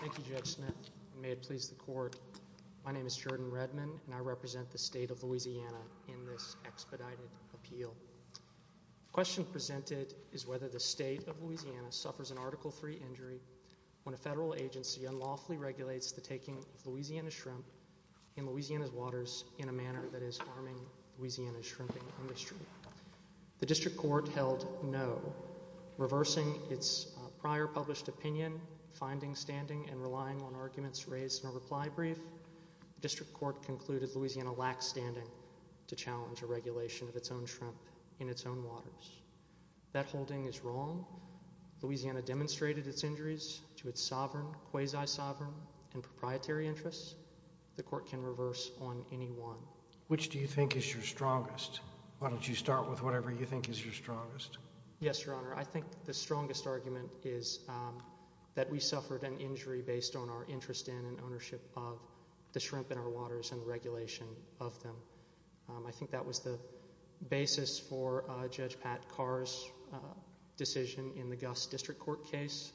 Thank you Judge Smith. May it please the court. My name is Jordan Redman and I represent the state of Louisiana in this expedited appeal. The question presented is whether the state of Louisiana suffers an Article III injury when a federal agency unlawfully regulates the taking of Louisiana shrimp in Louisiana's waters in a manner that is harming Louisiana's industry. The district court held no, reversing its prior published opinion, finding, standing, and relying on arguments raised in a reply brief. The district court concluded Louisiana lacks standing to challenge a regulation of its own shrimp in its own waters. That holding is wrong. Louisiana demonstrated its injuries to its sovereign, quasi-sovereign, and proprietary interests. The court can reverse on any one. Which do you think is your strongest? Why don't you start with whatever you think is your strongest? Yes, Your Honor. I think the strongest argument is that we suffered an injury based on our interest in and ownership of the shrimp in our waters and regulation of them. I think that was the basis for Judge Pat Carr's decision in the Gus District Court case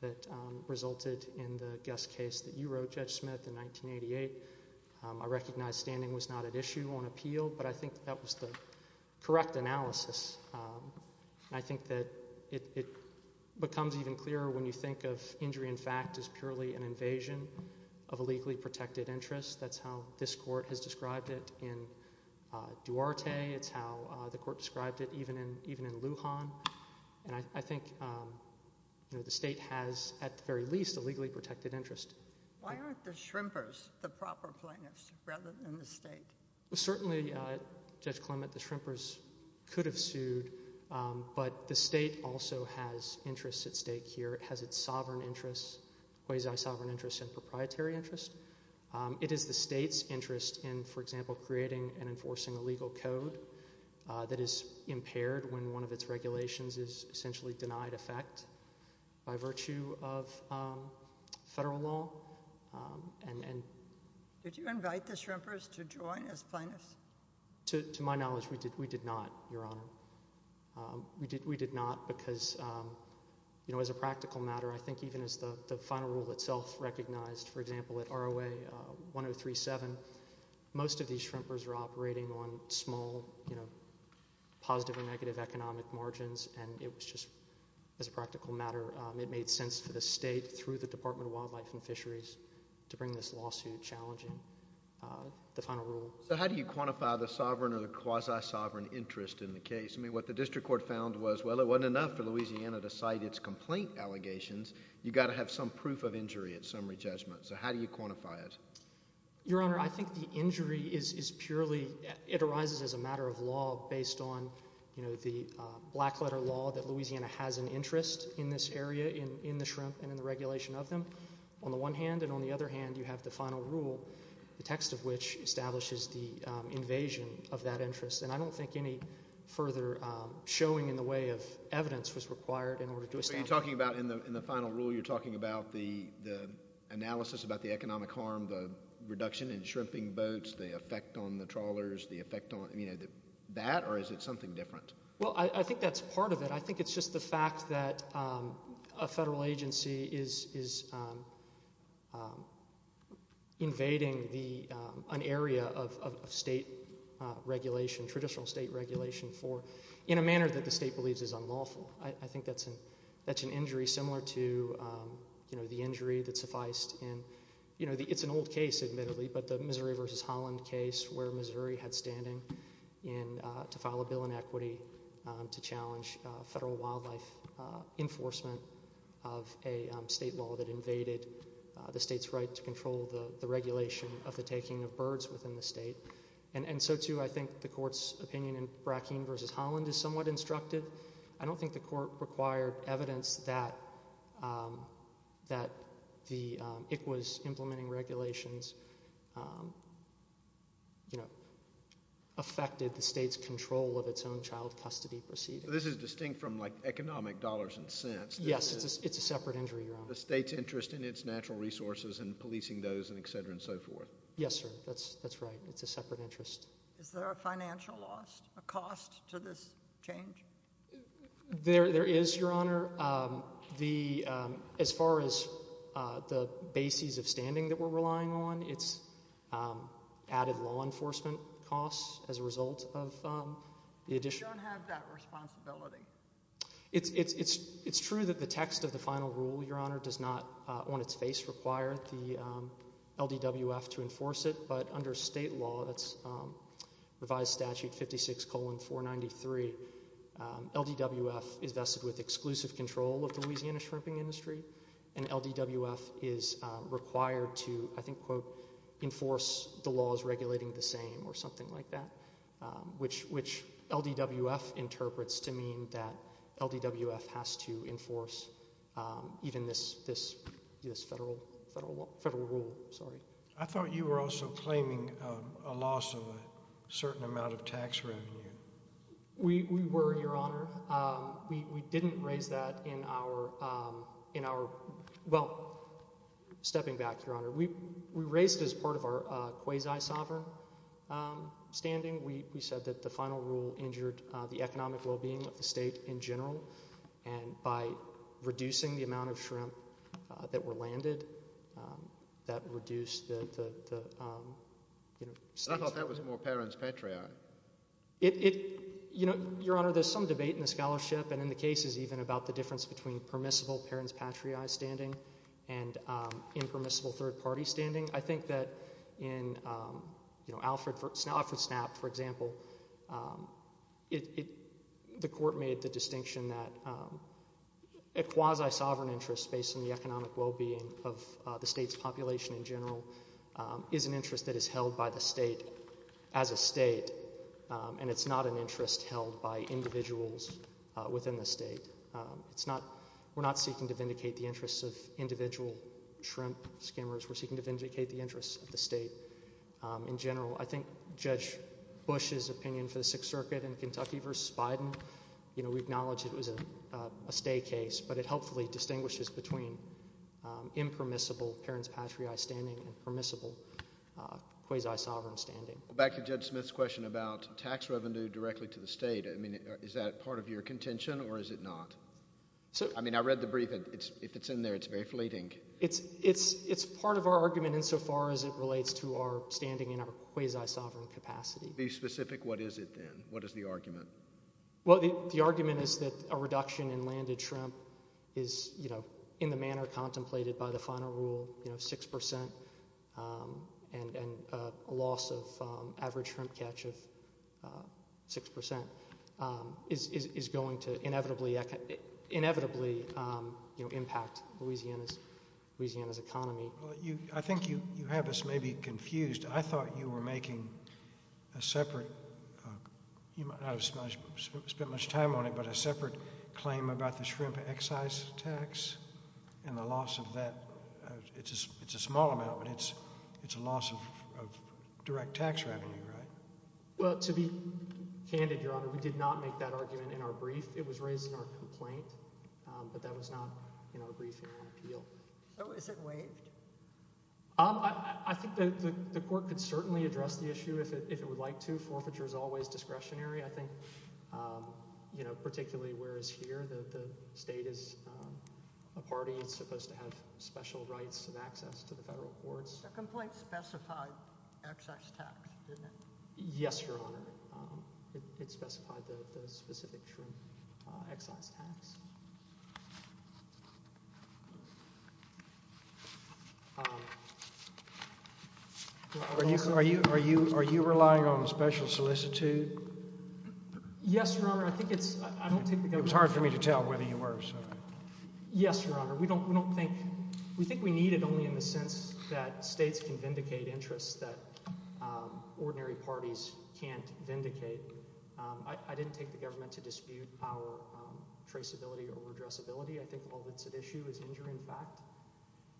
that resulted in the Gus case that you said in 1988. I recognize standing was not at issue on appeal, but I think that was the correct analysis. I think that it becomes even clearer when you think of injury in fact as purely an invasion of a legally protected interest. That's how this court has described it in Duarte. It's how the court described it even in Lujan. And I think the state has, at the very least, a legally protected interest. Why aren't the shrimpers the proper plaintiffs rather than the state? Certainly, Judge Clement, the shrimpers could have sued, but the state also has interests at stake here. It has its sovereign interests, quasi-sovereign interests, and proprietary interests. It is the state's interest in, for example, creating and enforcing a legal code that is impaired when one of its regulations is essentially denied effect by virtue of federal law. Did you invite the shrimpers to join as plaintiffs? To my knowledge, we did not, Your Honor. We did not because, you know, as a practical matter, I think even as the final rule itself recognized, for example, at ROA 1037, most of these shrimpers are operating on small, you know, positive or negative economic margins, and it was just, as a practical matter, it made sense for the state, through the Department of Wildlife and Fisheries, to bring this lawsuit challenging the final rule. So how do you quantify the sovereign or the quasi-sovereign interest in the case? I mean, what the district court found was, well, it wasn't enough for Louisiana to cite its complaint allegations. You've got to have some proof of injury at summary judgment. So how do you quantify it? Your Honor, I think the injury is purely, it arises as a matter of law based on, you know, the black letter law that Louisiana has an interest in this area, in the shrimp and in the regulation of them, on the one hand. And on the other hand, you have the final rule, the text of which establishes the invasion of that interest. And I don't think any further showing in the way of evidence was required in order to establish that. So you're talking about in the final rule, you're talking about the analysis about the economic harm, the reduction in shrimping boats, the effect on the trawlers, the effect on, you know, that, or is it something different? Well, I think that's part of it. I think it's just the fact that a federal agency is invading the, an area of state regulation, traditional state regulation for, in a manner that the state believes is unlawful. I think that's an injury similar to, you know, the injury that sufficed in, you know, the, it's an old case, admittedly, but the Missouri versus Holland case where Missouri had standing in, to file a bill in equity to challenge federal wildlife enforcement of a state law that invaded the state's right to control the regulation of the taking of birds within the state. And so too, I think the court's opinion in Brackeen versus Holland is somewhat instructive. I don't think the court required evidence that, that the, it was implementing regulations, you know, affected the state's control of its own child custody proceedings. This is distinct from, like, economic dollars and cents. Yes, it's a separate injury, Your Honor. The state's interest in its natural resources and policing those and et cetera and so forth. Yes, sir. That's, that's right. It's a separate interest. Is there a financial loss, a cost to this change? There is, Your Honor. The, as far as the bases of standing that we're relying on, it's added law enforcement costs as a result of the addition. We don't have that responsibility. It's true that the text of the final rule, Your Honor, does not on its face require the LDWF to enforce it, but under state law, that's revised statute 56 colon 493, LDWF is vested with exclusive control of the Louisiana shrimping industry and LDWF is required to, I think, quote, enforce the laws regulating the same or something like that, which, which LDWF interprets to mean that LDWF has to enforce even this, this, this federal, federal law, federal rule, sorry. I thought you were also claiming a loss of a certain amount of tax revenue. We, we were, Your Honor. We, we didn't raise that in our, in our, well, stepping back, Your Honor, we, we raised as part of our quasi-sovereign standing, we, we said that the final rule injured the economic well-being of the state in general and by reducing the amount of shrimp that were landed, that reduced the, the, the, you know. I thought that was more parents patriae. It, it, you know, Your Honor, there's some debate in the scholarship and in the cases even about the difference between permissible parents patriae standing and impermissible third party standing. I think that in, you know, Alfred, Alfred Snapp, for example, it, the court made the distinction that a quasi-sovereign interest based on the economic well-being of the state's population in general is an interest that is held by the state as a state and it's not an interest held by individuals within the state. It's not, we're not seeking to vindicate the interests of individual shrimp skimmers. We're seeking to vindicate the interests of the state in general. I think Judge Bush's opinion for the Sixth Circuit in Kentucky versus Biden, you know, we acknowledge it was a, a stay case, but it helpfully distinguishes between impermissible parents patriae standing and permissible quasi-sovereign standing. Back to Judge Smith's question about tax revenue directly to the state. I mean, is that part of your contention or is it not? So, I mean, I read the brief and it's, if it's in there, it's very fleeting. It's, it's, it's part of our argument insofar as it relates to our standing in our quasi-sovereign capacity. Be specific, what is it then? What is the in the manner contemplated by the final rule, you know, 6% and, and a loss of average shrimp catch of 6% is, is, is going to inevitably, inevitably, you know, impact Louisiana's, Louisiana's economy. Well, you, I think you, you have us maybe confused. I thought you were making a separate, you might not have spent much time on it, but a separate claim about the shrimp excise tax and the loss of that. It's, it's a small amount, but it's, it's a loss of, of direct tax revenue, right? Well, to be candid, Your Honor, we did not make that argument in our brief. It was raised in our complaint, but that was not in our brief hearing appeal. So, is it waived? I, I, I think the, the, the court could certainly address the issue if it, if it would like to. Forfeiture is always discretionary, I think that the state is a party, it's supposed to have special rights and access to the federal courts. The complaint specified excise tax, didn't it? Yes, Your Honor. It, it specified the, the specific shrimp excise tax. Are you, are you, are you, are you relying on a special solicitor? Yes, Your Honor. We don't, we don't think, we think we need it only in the sense that states can vindicate interests that ordinary parties can't vindicate. I, I didn't take the government to dispute our traceability or redressability. I think all that's at issue is injury in fact.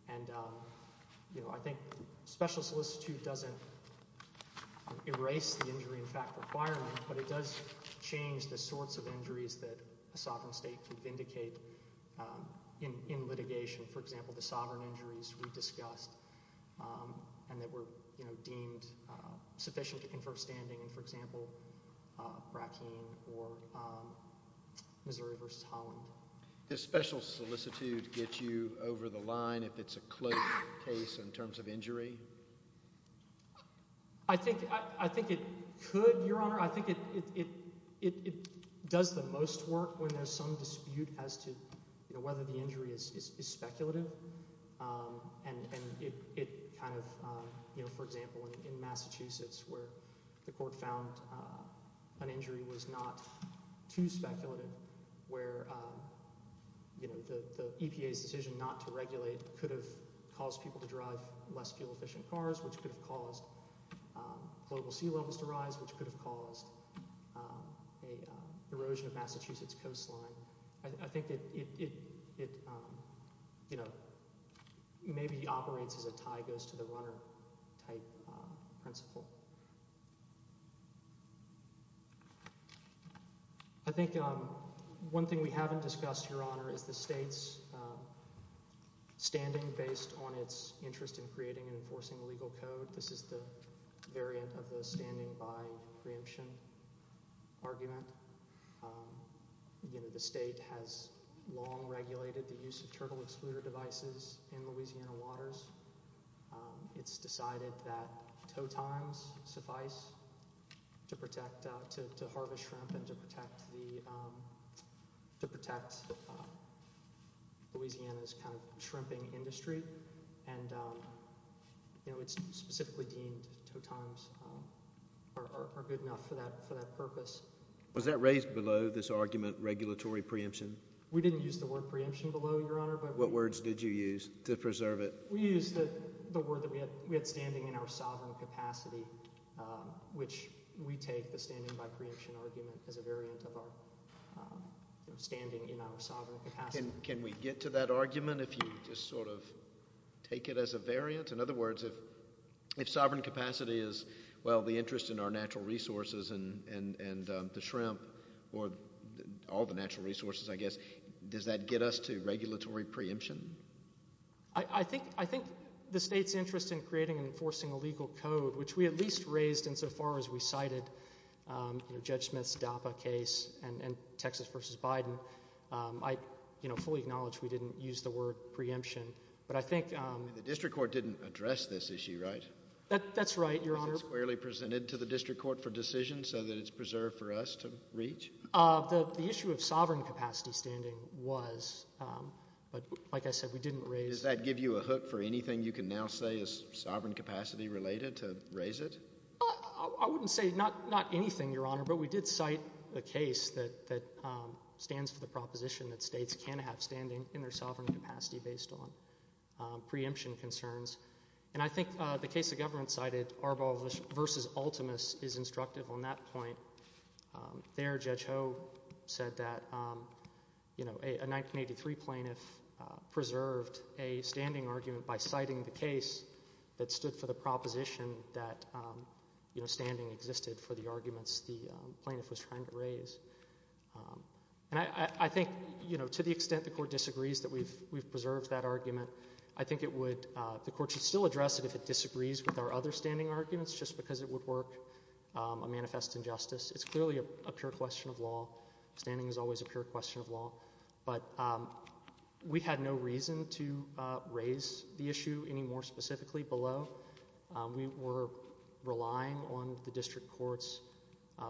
And, you know, I think special solicitude doesn't erase the injury in fact requirement, but it does change the sorts of injuries that a sovereign state can vindicate in, in litigation. For example, the sovereign injuries we discussed and that were, you know, deemed sufficient to confer standing in, for example, Brackeen or Missouri v. Holland. Does special solicitude get you over the line if it's a close case in terms of injury? I think, I, I think it could, Your Honor. I think it, it, it, it could cause some dispute as to, you know, whether the injury is, is, is speculative. And, and it, it kind of, you know, for example, in Massachusetts where the court found an injury was not too speculative where, you know, the, the EPA's decision not to regulate could have caused people to drive less fuel efficient cars, which could have caused global sea levels to rise, which could have caused a erosion of Massachusetts coastline. I, I think it, it, it, you know, maybe operates as a tie goes to the runner type principle. I think one thing we haven't discussed, Your Honor, is the state's standing based on its interest in creating and enforcing legal code. This is the variant of the standing by preemption argument. You know, the state has long regulated the use of turtle excluder devices in Louisiana waters. It's decided that tow times suffice to protect, to, to protect Louisiana. And, and, and, and, you know, it's specifically deemed tow times are, are, are good enough for that, for that purpose. Was that raised below this argument, regulatory preemption? We didn't use the word preemption below, Your Honor, but we used. What words did you use to preserve it? We used the, the word that we had, we had standing in our sovereign capacity, which we take the standing by preemption argument as a variant of our, you know, standing in our sovereign capacity. Can, can we get to that argument if you just sort of take it as a variant? In other words, if, if sovereign capacity is, well, the interest in our natural resources and, and, and the shrimp or all the natural resources, I guess, does that get us to regulatory preemption? I, I think, I think the state's interest in creating and enforcing a legal code, which we at least raised insofar as we cited, you know, Judge Smith's DAPA case and, and Texas versus Biden. I, you know, fully acknowledge we didn't use the word preemption, but I think. The district court didn't address this issue, right? That, that's right, Your Honor. Was it squarely presented to the district court for decision so that it's preserved for us to reach? The, the issue of sovereign capacity standing was, but like I said, we didn't raise. Does that give you a hook for anything you can now say is sovereign capacity related to raise it? I, I wouldn't say not, not anything, Your Honor, but we did cite a case that, that stands for the proposition that states can have standing in their sovereign capacity based on preemption concerns, and I think the case the government cited, Arbol versus Ultimis, is instructive on that point. There, Judge Ho said that, you know, a, a 1983 plaintiff preserved a standing argument by citing the case that stood for the proposition that, you know, standing existed for the arguments the plaintiff was trying to raise. And I, I, I think, you know, to the extent the court disagrees that we've, we've preserved that argument, I think it would, the court should still address it if it disagrees with our other standing arguments just because it would work a manifest injustice. It's clearly a, a pure question of law. Standing is always a pure question of law. But we had no reason to raise the issue any more specifically below. We were relying on the district court's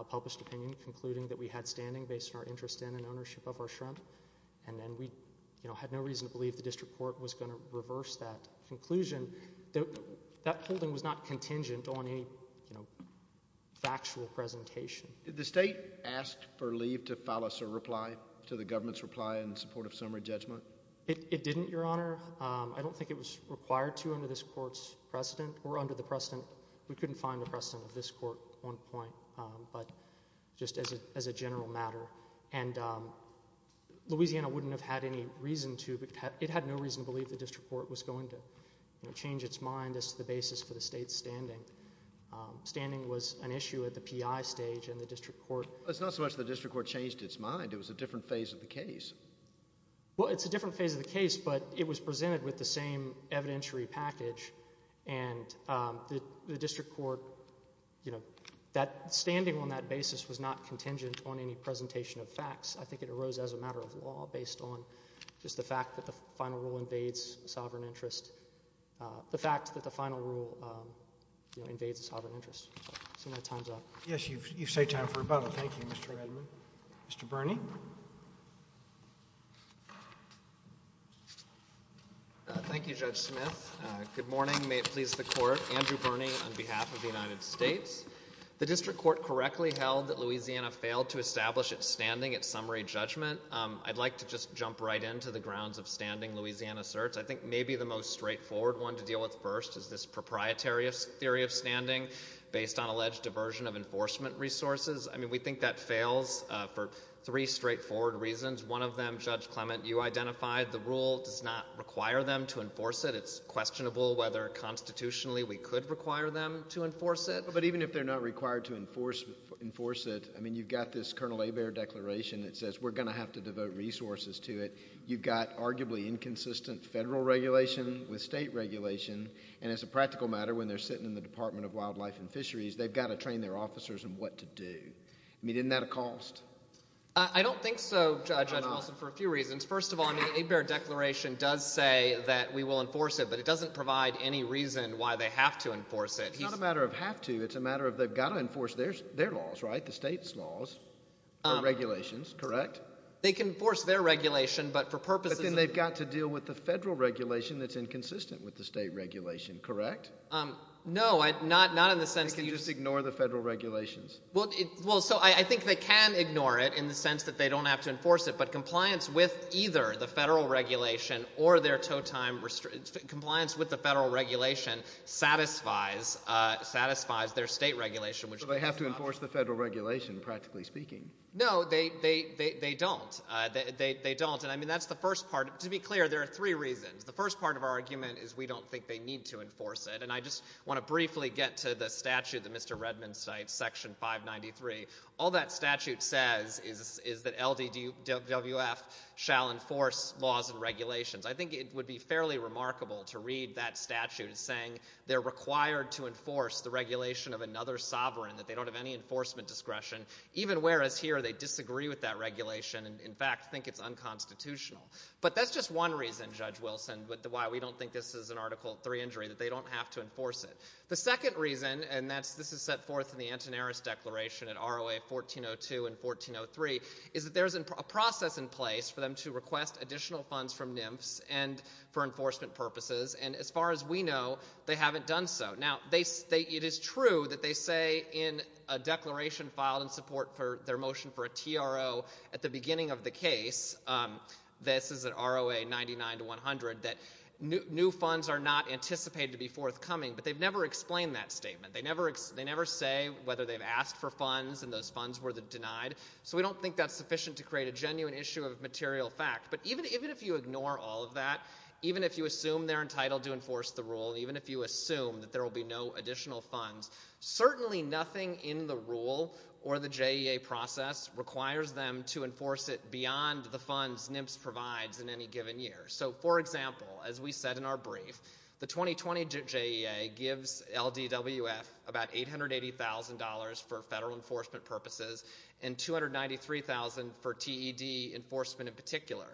published opinion concluding that we had standing based on our interest in and ownership of our shrimp, and then we, you know, had no reason to believe the district court was going to reverse that conclusion. That, that holding was not contingent on any, you know, factual presentation. Did the state ask for leave to file us a reply to the government's reply in support of summary judgment? It, it didn't, Your Honor. I don't think it was required to under this court's precedent, or under the precedent, we couldn't find a precedent of this court on point, but just as a, as a general matter. And Louisiana wouldn't have had any reason to, it had no reason to believe the district court was going to, you know, change its mind as to the basis for the state's standing. Standing was an issue at the P.I. stage and the district court. It's not so much the district court changed its mind, it was a different phase of the case. Well, it's a different phase of the case, but it was presented with the same evidentiary package, and the, the district court, you know, that standing on that basis was not contingent on any presentation of facts. I think it arose as a matter of law based on just the fact that the final rule invades sovereign interest, the fact that the final rule, you know, invades the sovereign interest. So my time's up. Yes, you've, you've saved time for rebuttal. Thank you, Mr. Redmond. Mr. Birney. Thank you, Judge Smith. Good morning. May it please the Court. Andrew Birney on behalf of the United States. The district court correctly held that Louisiana failed to establish its standing at summary judgment. I'd like to just jump right into the grounds of standing Louisiana asserts. I think maybe the most straightforward one to deal with first is this proprietary theory of standing based on alleged diversion of enforcement resources. I mean, we think that fails for three straightforward reasons. One of them, Judge Clement, you identified the rule does not require them to enforce it. It's questionable whether constitutionally we could require them to enforce it. But even if they're not required to enforce, enforce it, I mean, you've got this Colonel Hebert declaration that says we're going to have to devote resources to it. You've got arguably inconsistent federal regulation with state regulation. And as a practical matter, when they're sitting in the Department of Wildlife and Fisheries, they've got to train their officers on what to do. I mean, isn't that a cost? I don't think so, Judge Wilson, for a few reasons. First of all, I mean, Hebert declaration does say that we will enforce it, but it doesn't provide any reason why they have to enforce it. It's not a matter of have to. It's a matter of they've got to enforce their, their laws, right? The state's laws, regulations, correct? They can force their regulation, but for purposes... But then they've got to deal with the federal regulation that's inconsistent with the state regulation, correct? No, not in the sense that you... They can just ignore the federal regulations. Well, so I think they can ignore it in the sense that they don't have to enforce it, but compliance with either the federal regulation or their tow time, compliance with the federal regulation satisfies, satisfies their state regulation, which... But they have to enforce the federal regulation, practically speaking. No, they don't. They don't. And I mean, that's the first part. To be clear, there are three reasons. The first part of our argument is we don't think they need to enforce it, and I just want to briefly get to the statute that Mr. Redman cites, Section 593. All that statute says is, is that LDWF shall enforce laws and regulations. I think it would be fairly remarkable to read that statute as saying they're required to enforce the regulation of another sovereign, that they don't have any enforcement discretion, even whereas here they disagree with that regulation and, in fact, think it's unconstitutional. But that's just one reason, Judge Wilson, why we don't think this is an Article III injury, that they don't have to enforce it. The second reason, and this is set forth in the Antonaris Declaration at ROA 1402 and 1403, is that there's a process in place for them to request additional funds from NIMFS and for enforcement purposes, and as far as we know, they haven't done so. Now, it is true that they say in a declaration filed in support for their motion for a TRO at the beginning of the case, this is an ROA 99 to 100, that new funds are not anticipated to be forthcoming, but they've never explained that statement. They never say whether they've asked for funds and those funds were denied, so we don't think that's sufficient to create a genuine issue of material fact. But even if you ignore all of that, even if you assume they're entitled to enforce the rule, even if you assume that there will be no additional funds, certainly nothing in the rule or the JEA process requires them to enforce it beyond the funds NIMFS provides in any given year. So, for example, as we said in our brief, the 2020 JEA gives LDWF about $880,000 for federal enforcement purposes and $293,000 for TED enforcement in particular.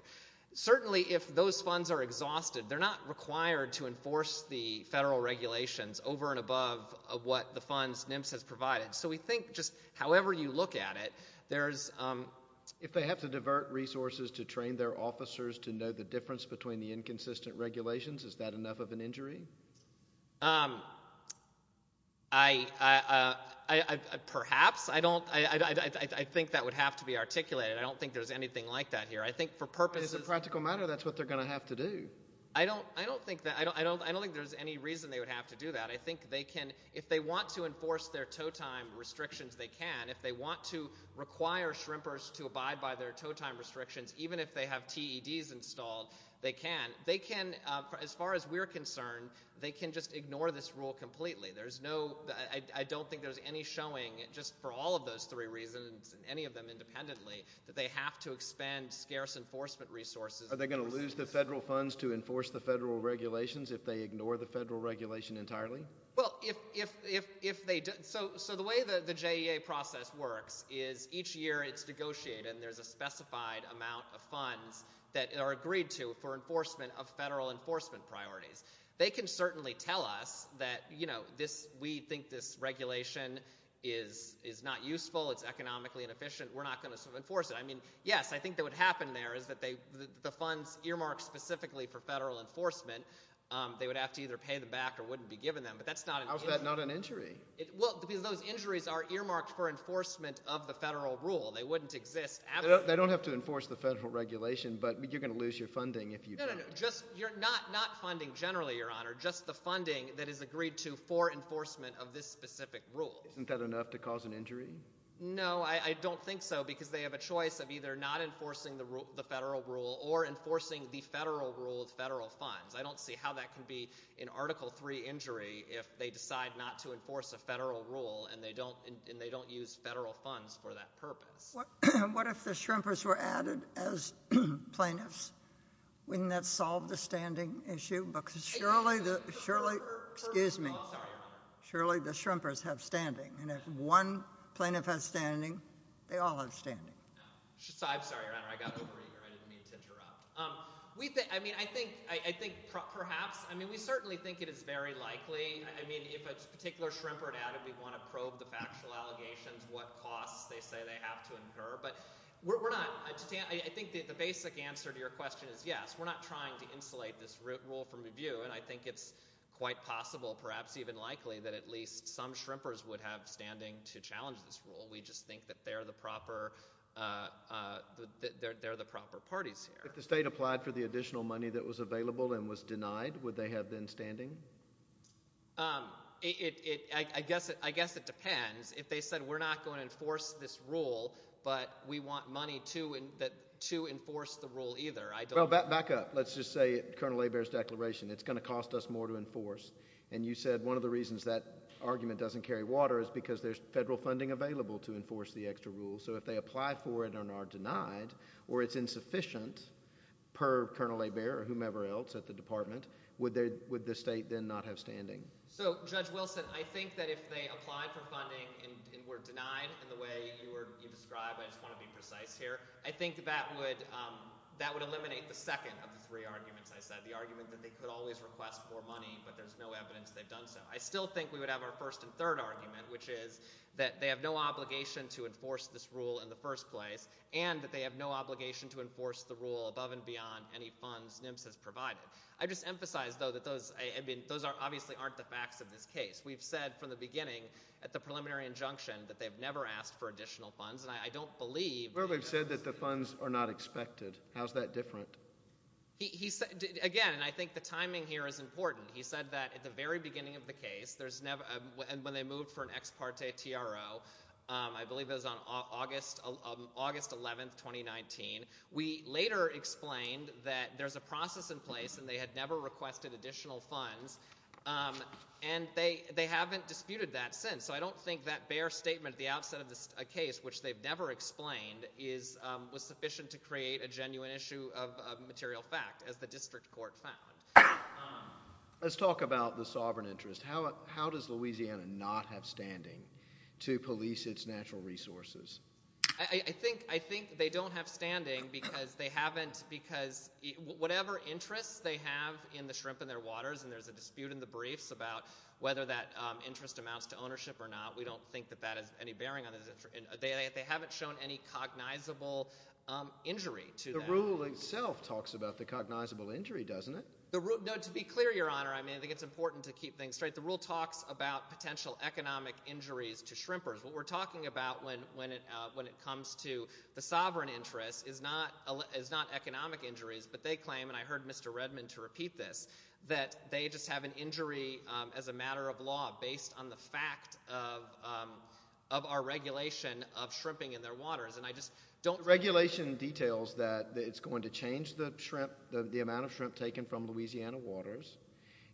Certainly, if those funds are exhausted, they're not required to enforce the federal regulations over and above what the funds NIMFS has provided. So we think just however you look at it, there's... If they have to divert resources to train their officers to know the difference between the inconsistent regulations, is that enough of an injury? Perhaps. I think that would have to be articulated. I don't think there's anything like that here. As a practical matter, that's what they're going to have to do. I don't think there's any reason they would have to do that. If they want to enforce their tow time restrictions, they can. If they want to require shrimpers to abide by their tow time restrictions, even if they have TEDs installed, they can. As far as we're concerned, they can just ignore this rule completely. I don't think there's any showing, just for all of those three reasons, and any of them independently, that they have to expend scarce enforcement resources. Are they going to lose the federal funds to enforce the federal regulations if they ignore the federal regulation entirely? So the way the JEA process works is each year it's negotiated and there's a specified amount of funds that are agreed to for enforcement of federal enforcement priorities. They can It's economically inefficient. We're not going to enforce it. Yes, I think what would happen there is that the funds earmarked specifically for federal enforcement, they would have to either pay them back or wouldn't be given them, but that's not an issue. How is that not an injury? Those injuries are earmarked for enforcement of the federal rule. They wouldn't exist. They don't have to enforce the federal regulation, but you're going to lose your funding if you don't. No, no, no. Not funding generally, Your Honor. Just the funding that is agreed to for enforcement of this specific rule. Isn't that enough to cause an injury? No, I don't think so because they have a choice of either not enforcing the federal rule or enforcing the federal rule of federal funds. I don't see how that can be an Article 3 injury if they decide not to enforce a federal rule and they don't use federal funds for that purpose. What if the shrimpers were added as plaintiffs? Wouldn't that solve the standing issue? Surely the shrimpers have standing, and if one plaintiff has standing, they all have standing. I'm sorry, Your Honor. I got overeager. I didn't mean to interrupt. We think, I mean, I think, I think perhaps, I mean, we certainly think it is very likely. I mean, if a particular shrimp are added, we want to probe the factual allegations, what costs they say they have to incur, but we're not, I think the basic answer to your view, and I think it's quite possible, perhaps even likely, that at least some shrimpers would have standing to challenge this rule. We just think that they're the proper, they're the proper parties here. If the state applied for the additional money that was available and was denied, would they have then standing? I guess it depends. If they said we're not going to enforce this rule, but we want money to enforce the rule either, I don't know. Well, back up. Let's just say Colonel Hebert's declaration, it's going to cost us more to enforce, and you said one of the reasons that argument doesn't carry water is because there's federal funding available to enforce the extra rule, so if they apply for it and are denied, or it's insufficient per Colonel Hebert or whomever else at the department, would the state then not have standing? So, Judge Wilson, I think that if they applied for funding and were denied in the way you described, I just want to be precise here, I think that would eliminate the second of the three arguments I said, the argument that they could always request more money, but there's no evidence they've done so. I still think we would have our first and third argument, which is that they have no obligation to enforce this rule in the first place, and that they have no obligation to enforce the rule above and beyond any funds NIMS has provided. I just emphasize, though, that those obviously aren't the facts of this case. We've said from the beginning at the preliminary injunction that they've never asked for additional funds, and I don't believe Well, they've said that the funds are not expected. How's that different? Again, I think the timing here is important. He said that at the very beginning of the case, when they moved for an ex parte TRO, I believe it was on August 11, 2019, we later explained that there's a process in place and they had never requested additional funds, and they haven't disputed that since, so I believe the fact that they've never explained was sufficient to create a genuine issue of material fact, as the district court found. Let's talk about the sovereign interest. How does Louisiana not have standing to police its natural resources? I think they don't have standing because whatever interests they have in the shrimp and their waters, and there's a dispute in the briefs about whether that interest amounts to ownership or not. We don't think that that has any bearing on it. They haven't shown any cognizable injury to that. The rule itself talks about the cognizable injury, doesn't it? No, to be clear, Your Honor, I think it's important to keep things straight. The rule talks about potential economic injuries to shrimpers. What we're talking about when it comes to the sovereign interest is not economic injuries, but they claim, and I heard Mr. Redman to repeat this, that they just have an injury as a matter of law based on the fact of our regulation of shrimping in their waters. The regulation details that it's going to change the amount of shrimp taken from Louisiana waters.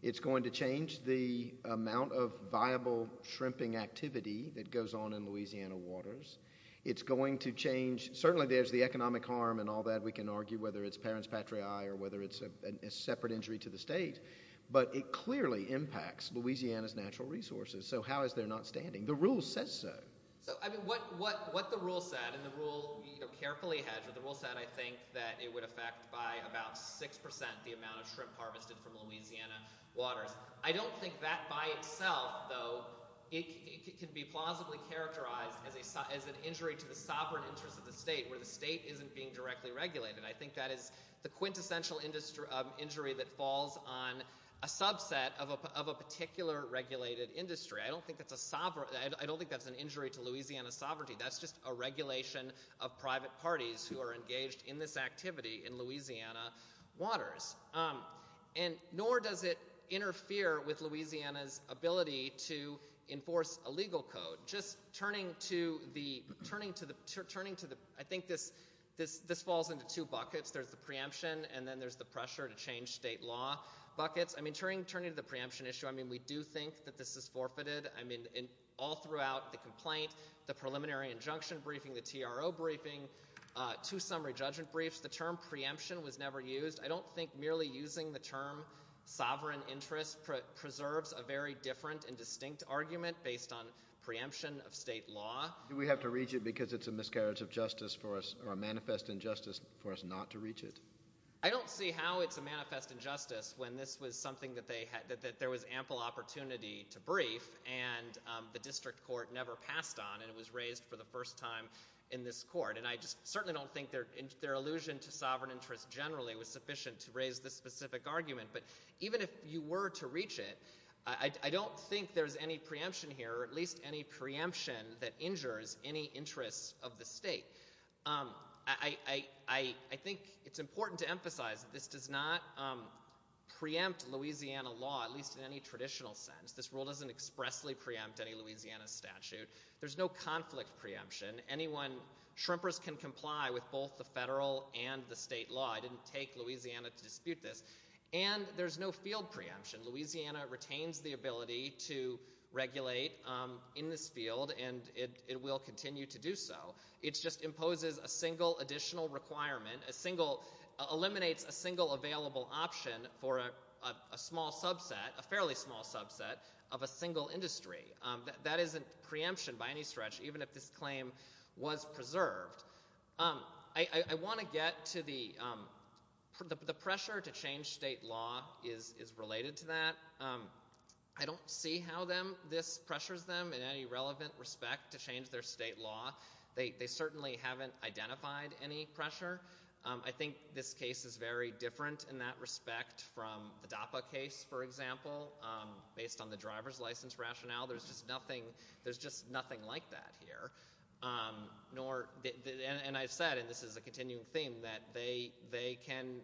It's going to change the amount of viable shrimping activity that goes on in Louisiana waters. It's going to change, certainly there's the economic harm and all that. We can argue whether it's parents patriae or whether it's a separate injury to the state, but it clearly impacts Louisiana's natural resources, so how is there not standing? The rule says so. What the rule said, and the rule carefully hedged, the rule said I think that it would affect by about 6% the amount of shrimp harvested from Louisiana waters. I don't think that by itself, though, it can be plausibly characterized as an injury to the sovereign interest of the state where the state isn't being directly regulated. I think that is the quintessential injury that falls on a subset of a particular regulated industry. I don't think that's an injury to Louisiana's sovereignty. That's just a regulation of private parties who are engaged in this activity in Louisiana waters. Nor does it interfere with Louisiana's ability to enforce a legal code. I think this falls into two buckets. There's the preemption, and then there's the pressure to change state law buckets. Turning to the preemption issue, we do think that this is forfeited. All throughout the complaint, the preliminary injunction briefing, the TRO briefing, two summary judgment briefs, the term preemption was never used. I don't think merely using the term sovereign interest preserves a very different and distinct argument based on preemption of state law. Do we have to reach it because it's a miscarriage of justice for us or a manifest injustice for us not to reach it? I don't see how it's a manifest injustice when this was something that there was ample opportunity to brief, and the district court never passed on, and it was raised for the first time in this court. I just certainly don't think their allusion to sovereign interest generally was sufficient to raise this specific argument. But even if you were to reach it, I don't think there's any preemption here, or at least any preemption that injures any interest of the state. I think it's important to emphasize that this does not preempt Louisiana law, at least in any traditional sense. This rule doesn't expressly preempt any Louisiana statute. There's no conflict preemption. Shrimpers can comply with both the federal and the state law. I didn't take Louisiana to dispute this. And there's no field preemption. Louisiana retains the ability to regulate in this field, and it will continue to do so. It just imposes a single additional requirement, eliminates a single available option for a small subset, a fairly small subset of a single industry. That isn't preemption by any stretch, even if this claim was preserved. I want to get to the pressure to change state law is related to that. I don't see how this pressures them in any relevant respect to change their state law. They certainly haven't identified any pressure. I think this case is very different in that respect from the DAPA case, for example. Based on the driver's license rationale, there's just nothing like that here. And I've said, and this is a continuing theme, that they can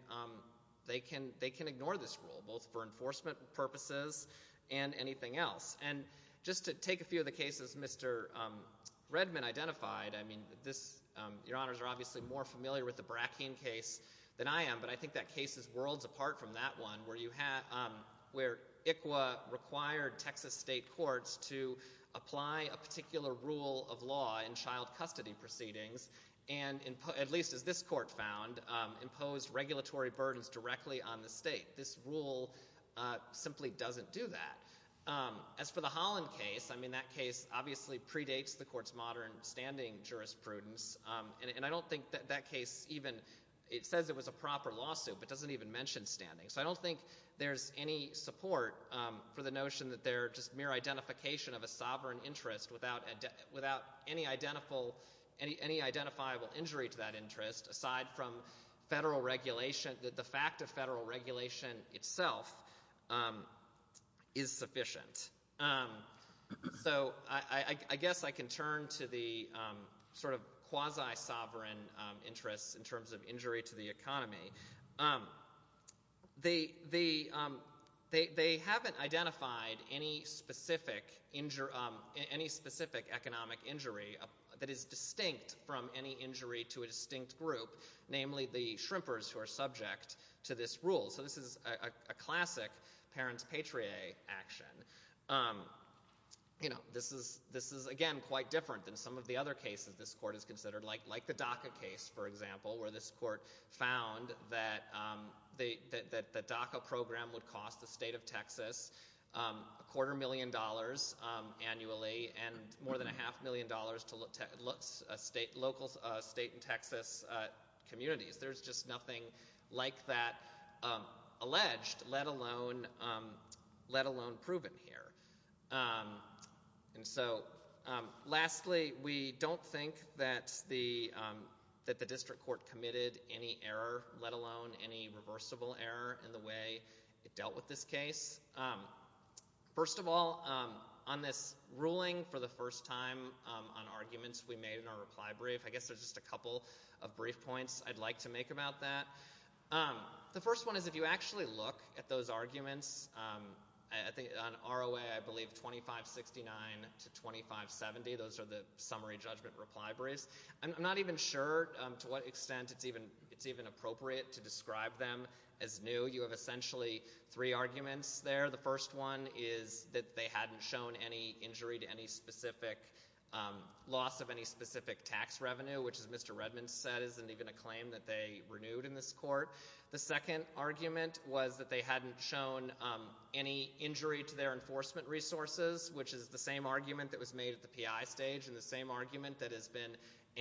ignore this rule, both for enforcement purposes and anything else. And just to take a few of the cases Mr. Redman identified, your honors are obviously more familiar with the Brackeen case than I am, but I think that case is worlds apart from that one where ICWA required Texas state courts to apply a particular rule of law in child custody proceedings, and at least as this court found, imposed regulatory burdens directly on the state. This rule simply doesn't do that. As for the Holland case, that case obviously predates the court's modern standing jurisprudence, and I don't think that case even, it says it was a proper lawsuit, but doesn't even mention standing. So I don't think there's any support for the notion that they're just mere identification of a sovereign interest without any identifiable injury to that interest aside from federal regulation, that the fact of federal regulation itself is sufficient. So I guess I can turn to the sort of quasi-sovereign interests in terms of injury to the economy. They haven't identified any specific economic injury that is distinct from any injury to a distinct group, namely the shrimpers who are subject to this rule. So this is a classic parents-patriot action. This is, again, quite different than some of the other cases this court has considered, like the DACA case, for example, where this court found that the DACA program would cost the state of Texas a quarter million dollars annually and more than a half million dollars to local state and Texas communities. There's just nothing like that alleged, let alone proven here. And so lastly, we don't think that the district court committed any error, let alone any reversible error in the way it dealt with this case. First of all, on this ruling for the first time on arguments we made in our reply brief, I guess there's just a couple of brief points I'd like to make about that. The first one is if you actually look at those arguments, I think on ROA I believe 2569 to 2570, those are the summary judgment reply briefs. I'm not even sure to what extent it's even appropriate to describe them as new. You have essentially three arguments there. The first one is that they hadn't shown any injury to any specific loss of any specific tax revenue, which, as Mr. Redman said, isn't even a claim that they renewed in this court. The second argument was that they hadn't shown any injury to their enforcement resources, which is the same argument that was made at the PI stage and the same argument that has been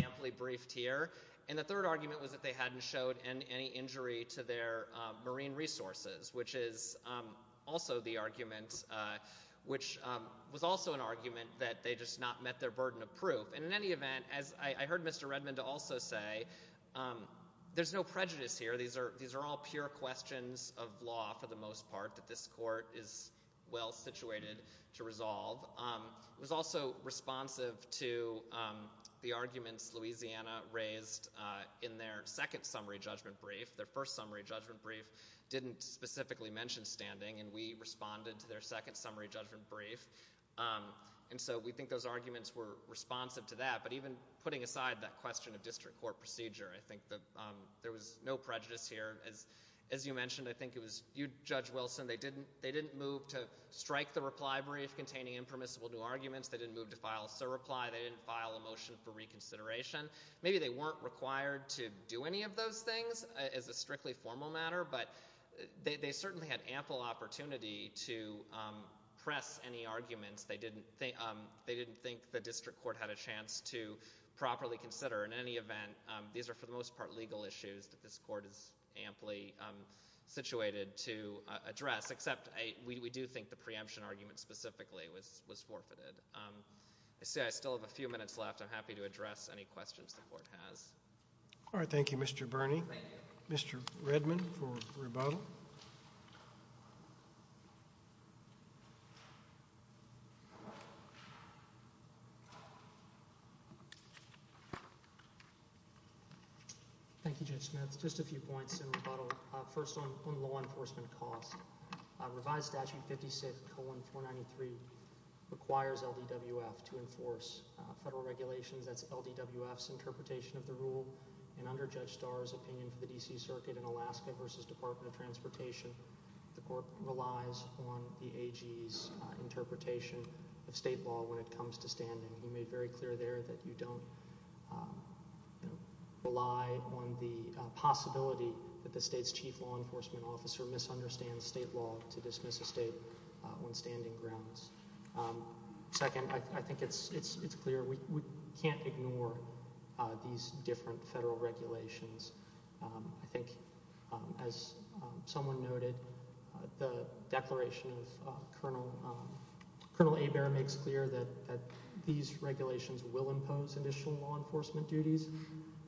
amply briefed here. And the third argument was that they hadn't shown any injury to their marine resources, which was also an argument that they just not met their burden of proof. And in any event, as I heard Mr. Redman also say, there's no prejudice here. These are all pure questions of law for the most part that this court is well situated to resolve. It was also responsive to the arguments Louisiana raised in their second summary judgment brief. Their first summary judgment brief didn't specifically mention standing, and we responded to their second summary judgment brief. And so we think those arguments were responsive to that. But even putting aside that question of district court procedure, I think that there was no prejudice here. As you mentioned, I think it was you, Judge Wilson, they didn't move to strike the reply brief containing impermissible new arguments. They didn't move to file a surreply. They didn't file a motion for reconsideration. Maybe they weren't required to do any of those things as a strictly formal matter, but they certainly had ample opportunity to press any arguments they didn't think the district court had a chance to properly consider. In any event, these are for the most part legal issues that this court is amply situated to address, except we do think the preemption argument specifically was forfeited. I see I still have a few minutes left. I'm happy to address any questions the court has. All right, thank you, Mr. Burney. Thank you. Mr. Redman for rebuttal. Thank you, Judge Smith. Just a few points in rebuttal. First on law enforcement costs. Revised Statute 56-493 requires LDWF to enforce federal regulations. That's LDWF's interpretation of the rule. And under Judge Starr's opinion for the D.C. Circuit in Alaska versus Department of Transportation, the court relies on the AG's interpretation of state law when it comes to standing. He made very clear there that you don't rely on the possibility that the state's chief law enforcement officer misunderstands state law to dismiss a state when standing grounds. Second, I think it's clear we can't ignore these different federal regulations. I think, as someone noted, the declaration of Colonel Hebert makes clear that these regulations will impose additional law enforcement duties.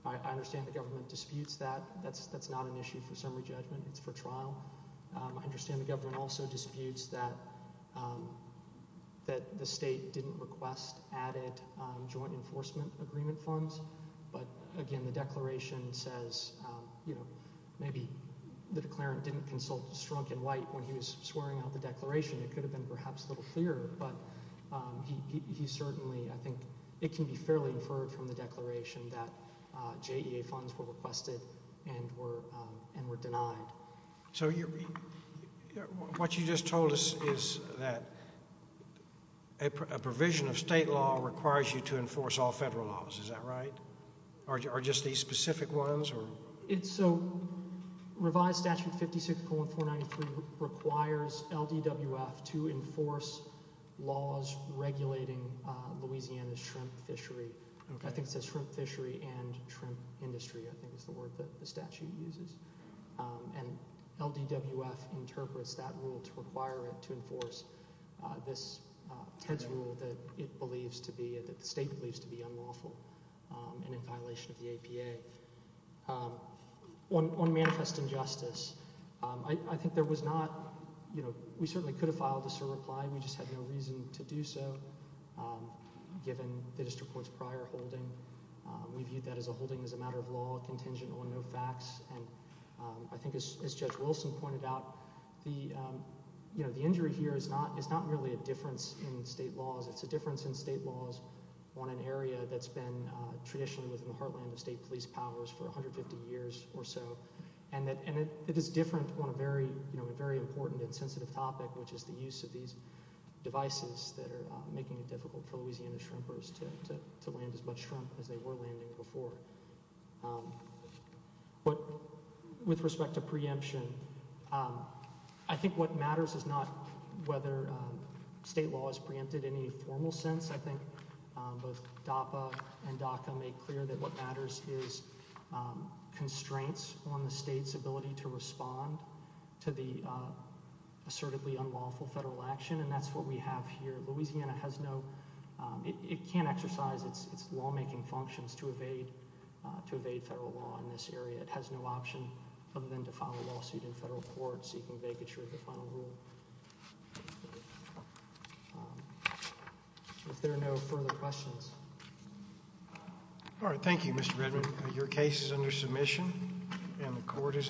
I understand the government disputes that. That's not an issue for summary judgment. It's for trial. I understand the government also disputes that the state didn't request added joint enforcement agreement funds. But, again, the declaration says, you know, maybe the declarant didn't consult Strunk and White when he was swearing out the declaration. It could have been perhaps a little clearer. But he certainly, I think, it can be fairly inferred from the declaration that JEA funds were requested and were denied. So what you just told us is that a provision of state law requires you to enforce all federal laws. Is that right? Or just these specific ones? So revised Statute 56.493 requires LDWF to enforce laws regulating Louisiana's shrimp fishery. I think it says shrimp fishery and shrimp industry, I think is the word that the statute uses. And LDWF interprets that rule to require it to enforce this, Ted's rule, that it believes to be, that the state believes to be unlawful and in violation of the APA. On manifest injustice, I think there was not, you know, we certainly could have filed a SIR reply. We just had no reason to do so given the district court's prior holding. We viewed that as a holding as a matter of law, contingent on no facts. And I think as Judge Wilson pointed out, the injury here is not really a difference in state laws. It's a difference in state laws on an area that's been traditionally within the heartland of state police powers for 150 years or so. And it is different on a very important and sensitive topic, which is the use of these devices that are making it difficult for Louisiana shrimpers to land as much shrimp as they were landing before. But with respect to preemption, I think what matters is not whether state law has preempted any formal sense. I think both DAPA and DACA make clear that what matters is constraints on the state's ability to respond to the assertively unlawful federal action. And that's what we have here. Louisiana has no, it can't exercise its lawmaking functions to evade federal law in this area. It has no option other than to file a lawsuit in federal court seeking vacature of the final rule. If there are no further questions. All right. Thank you, Mr. Redmond. Your case is under submission and the court is in recess.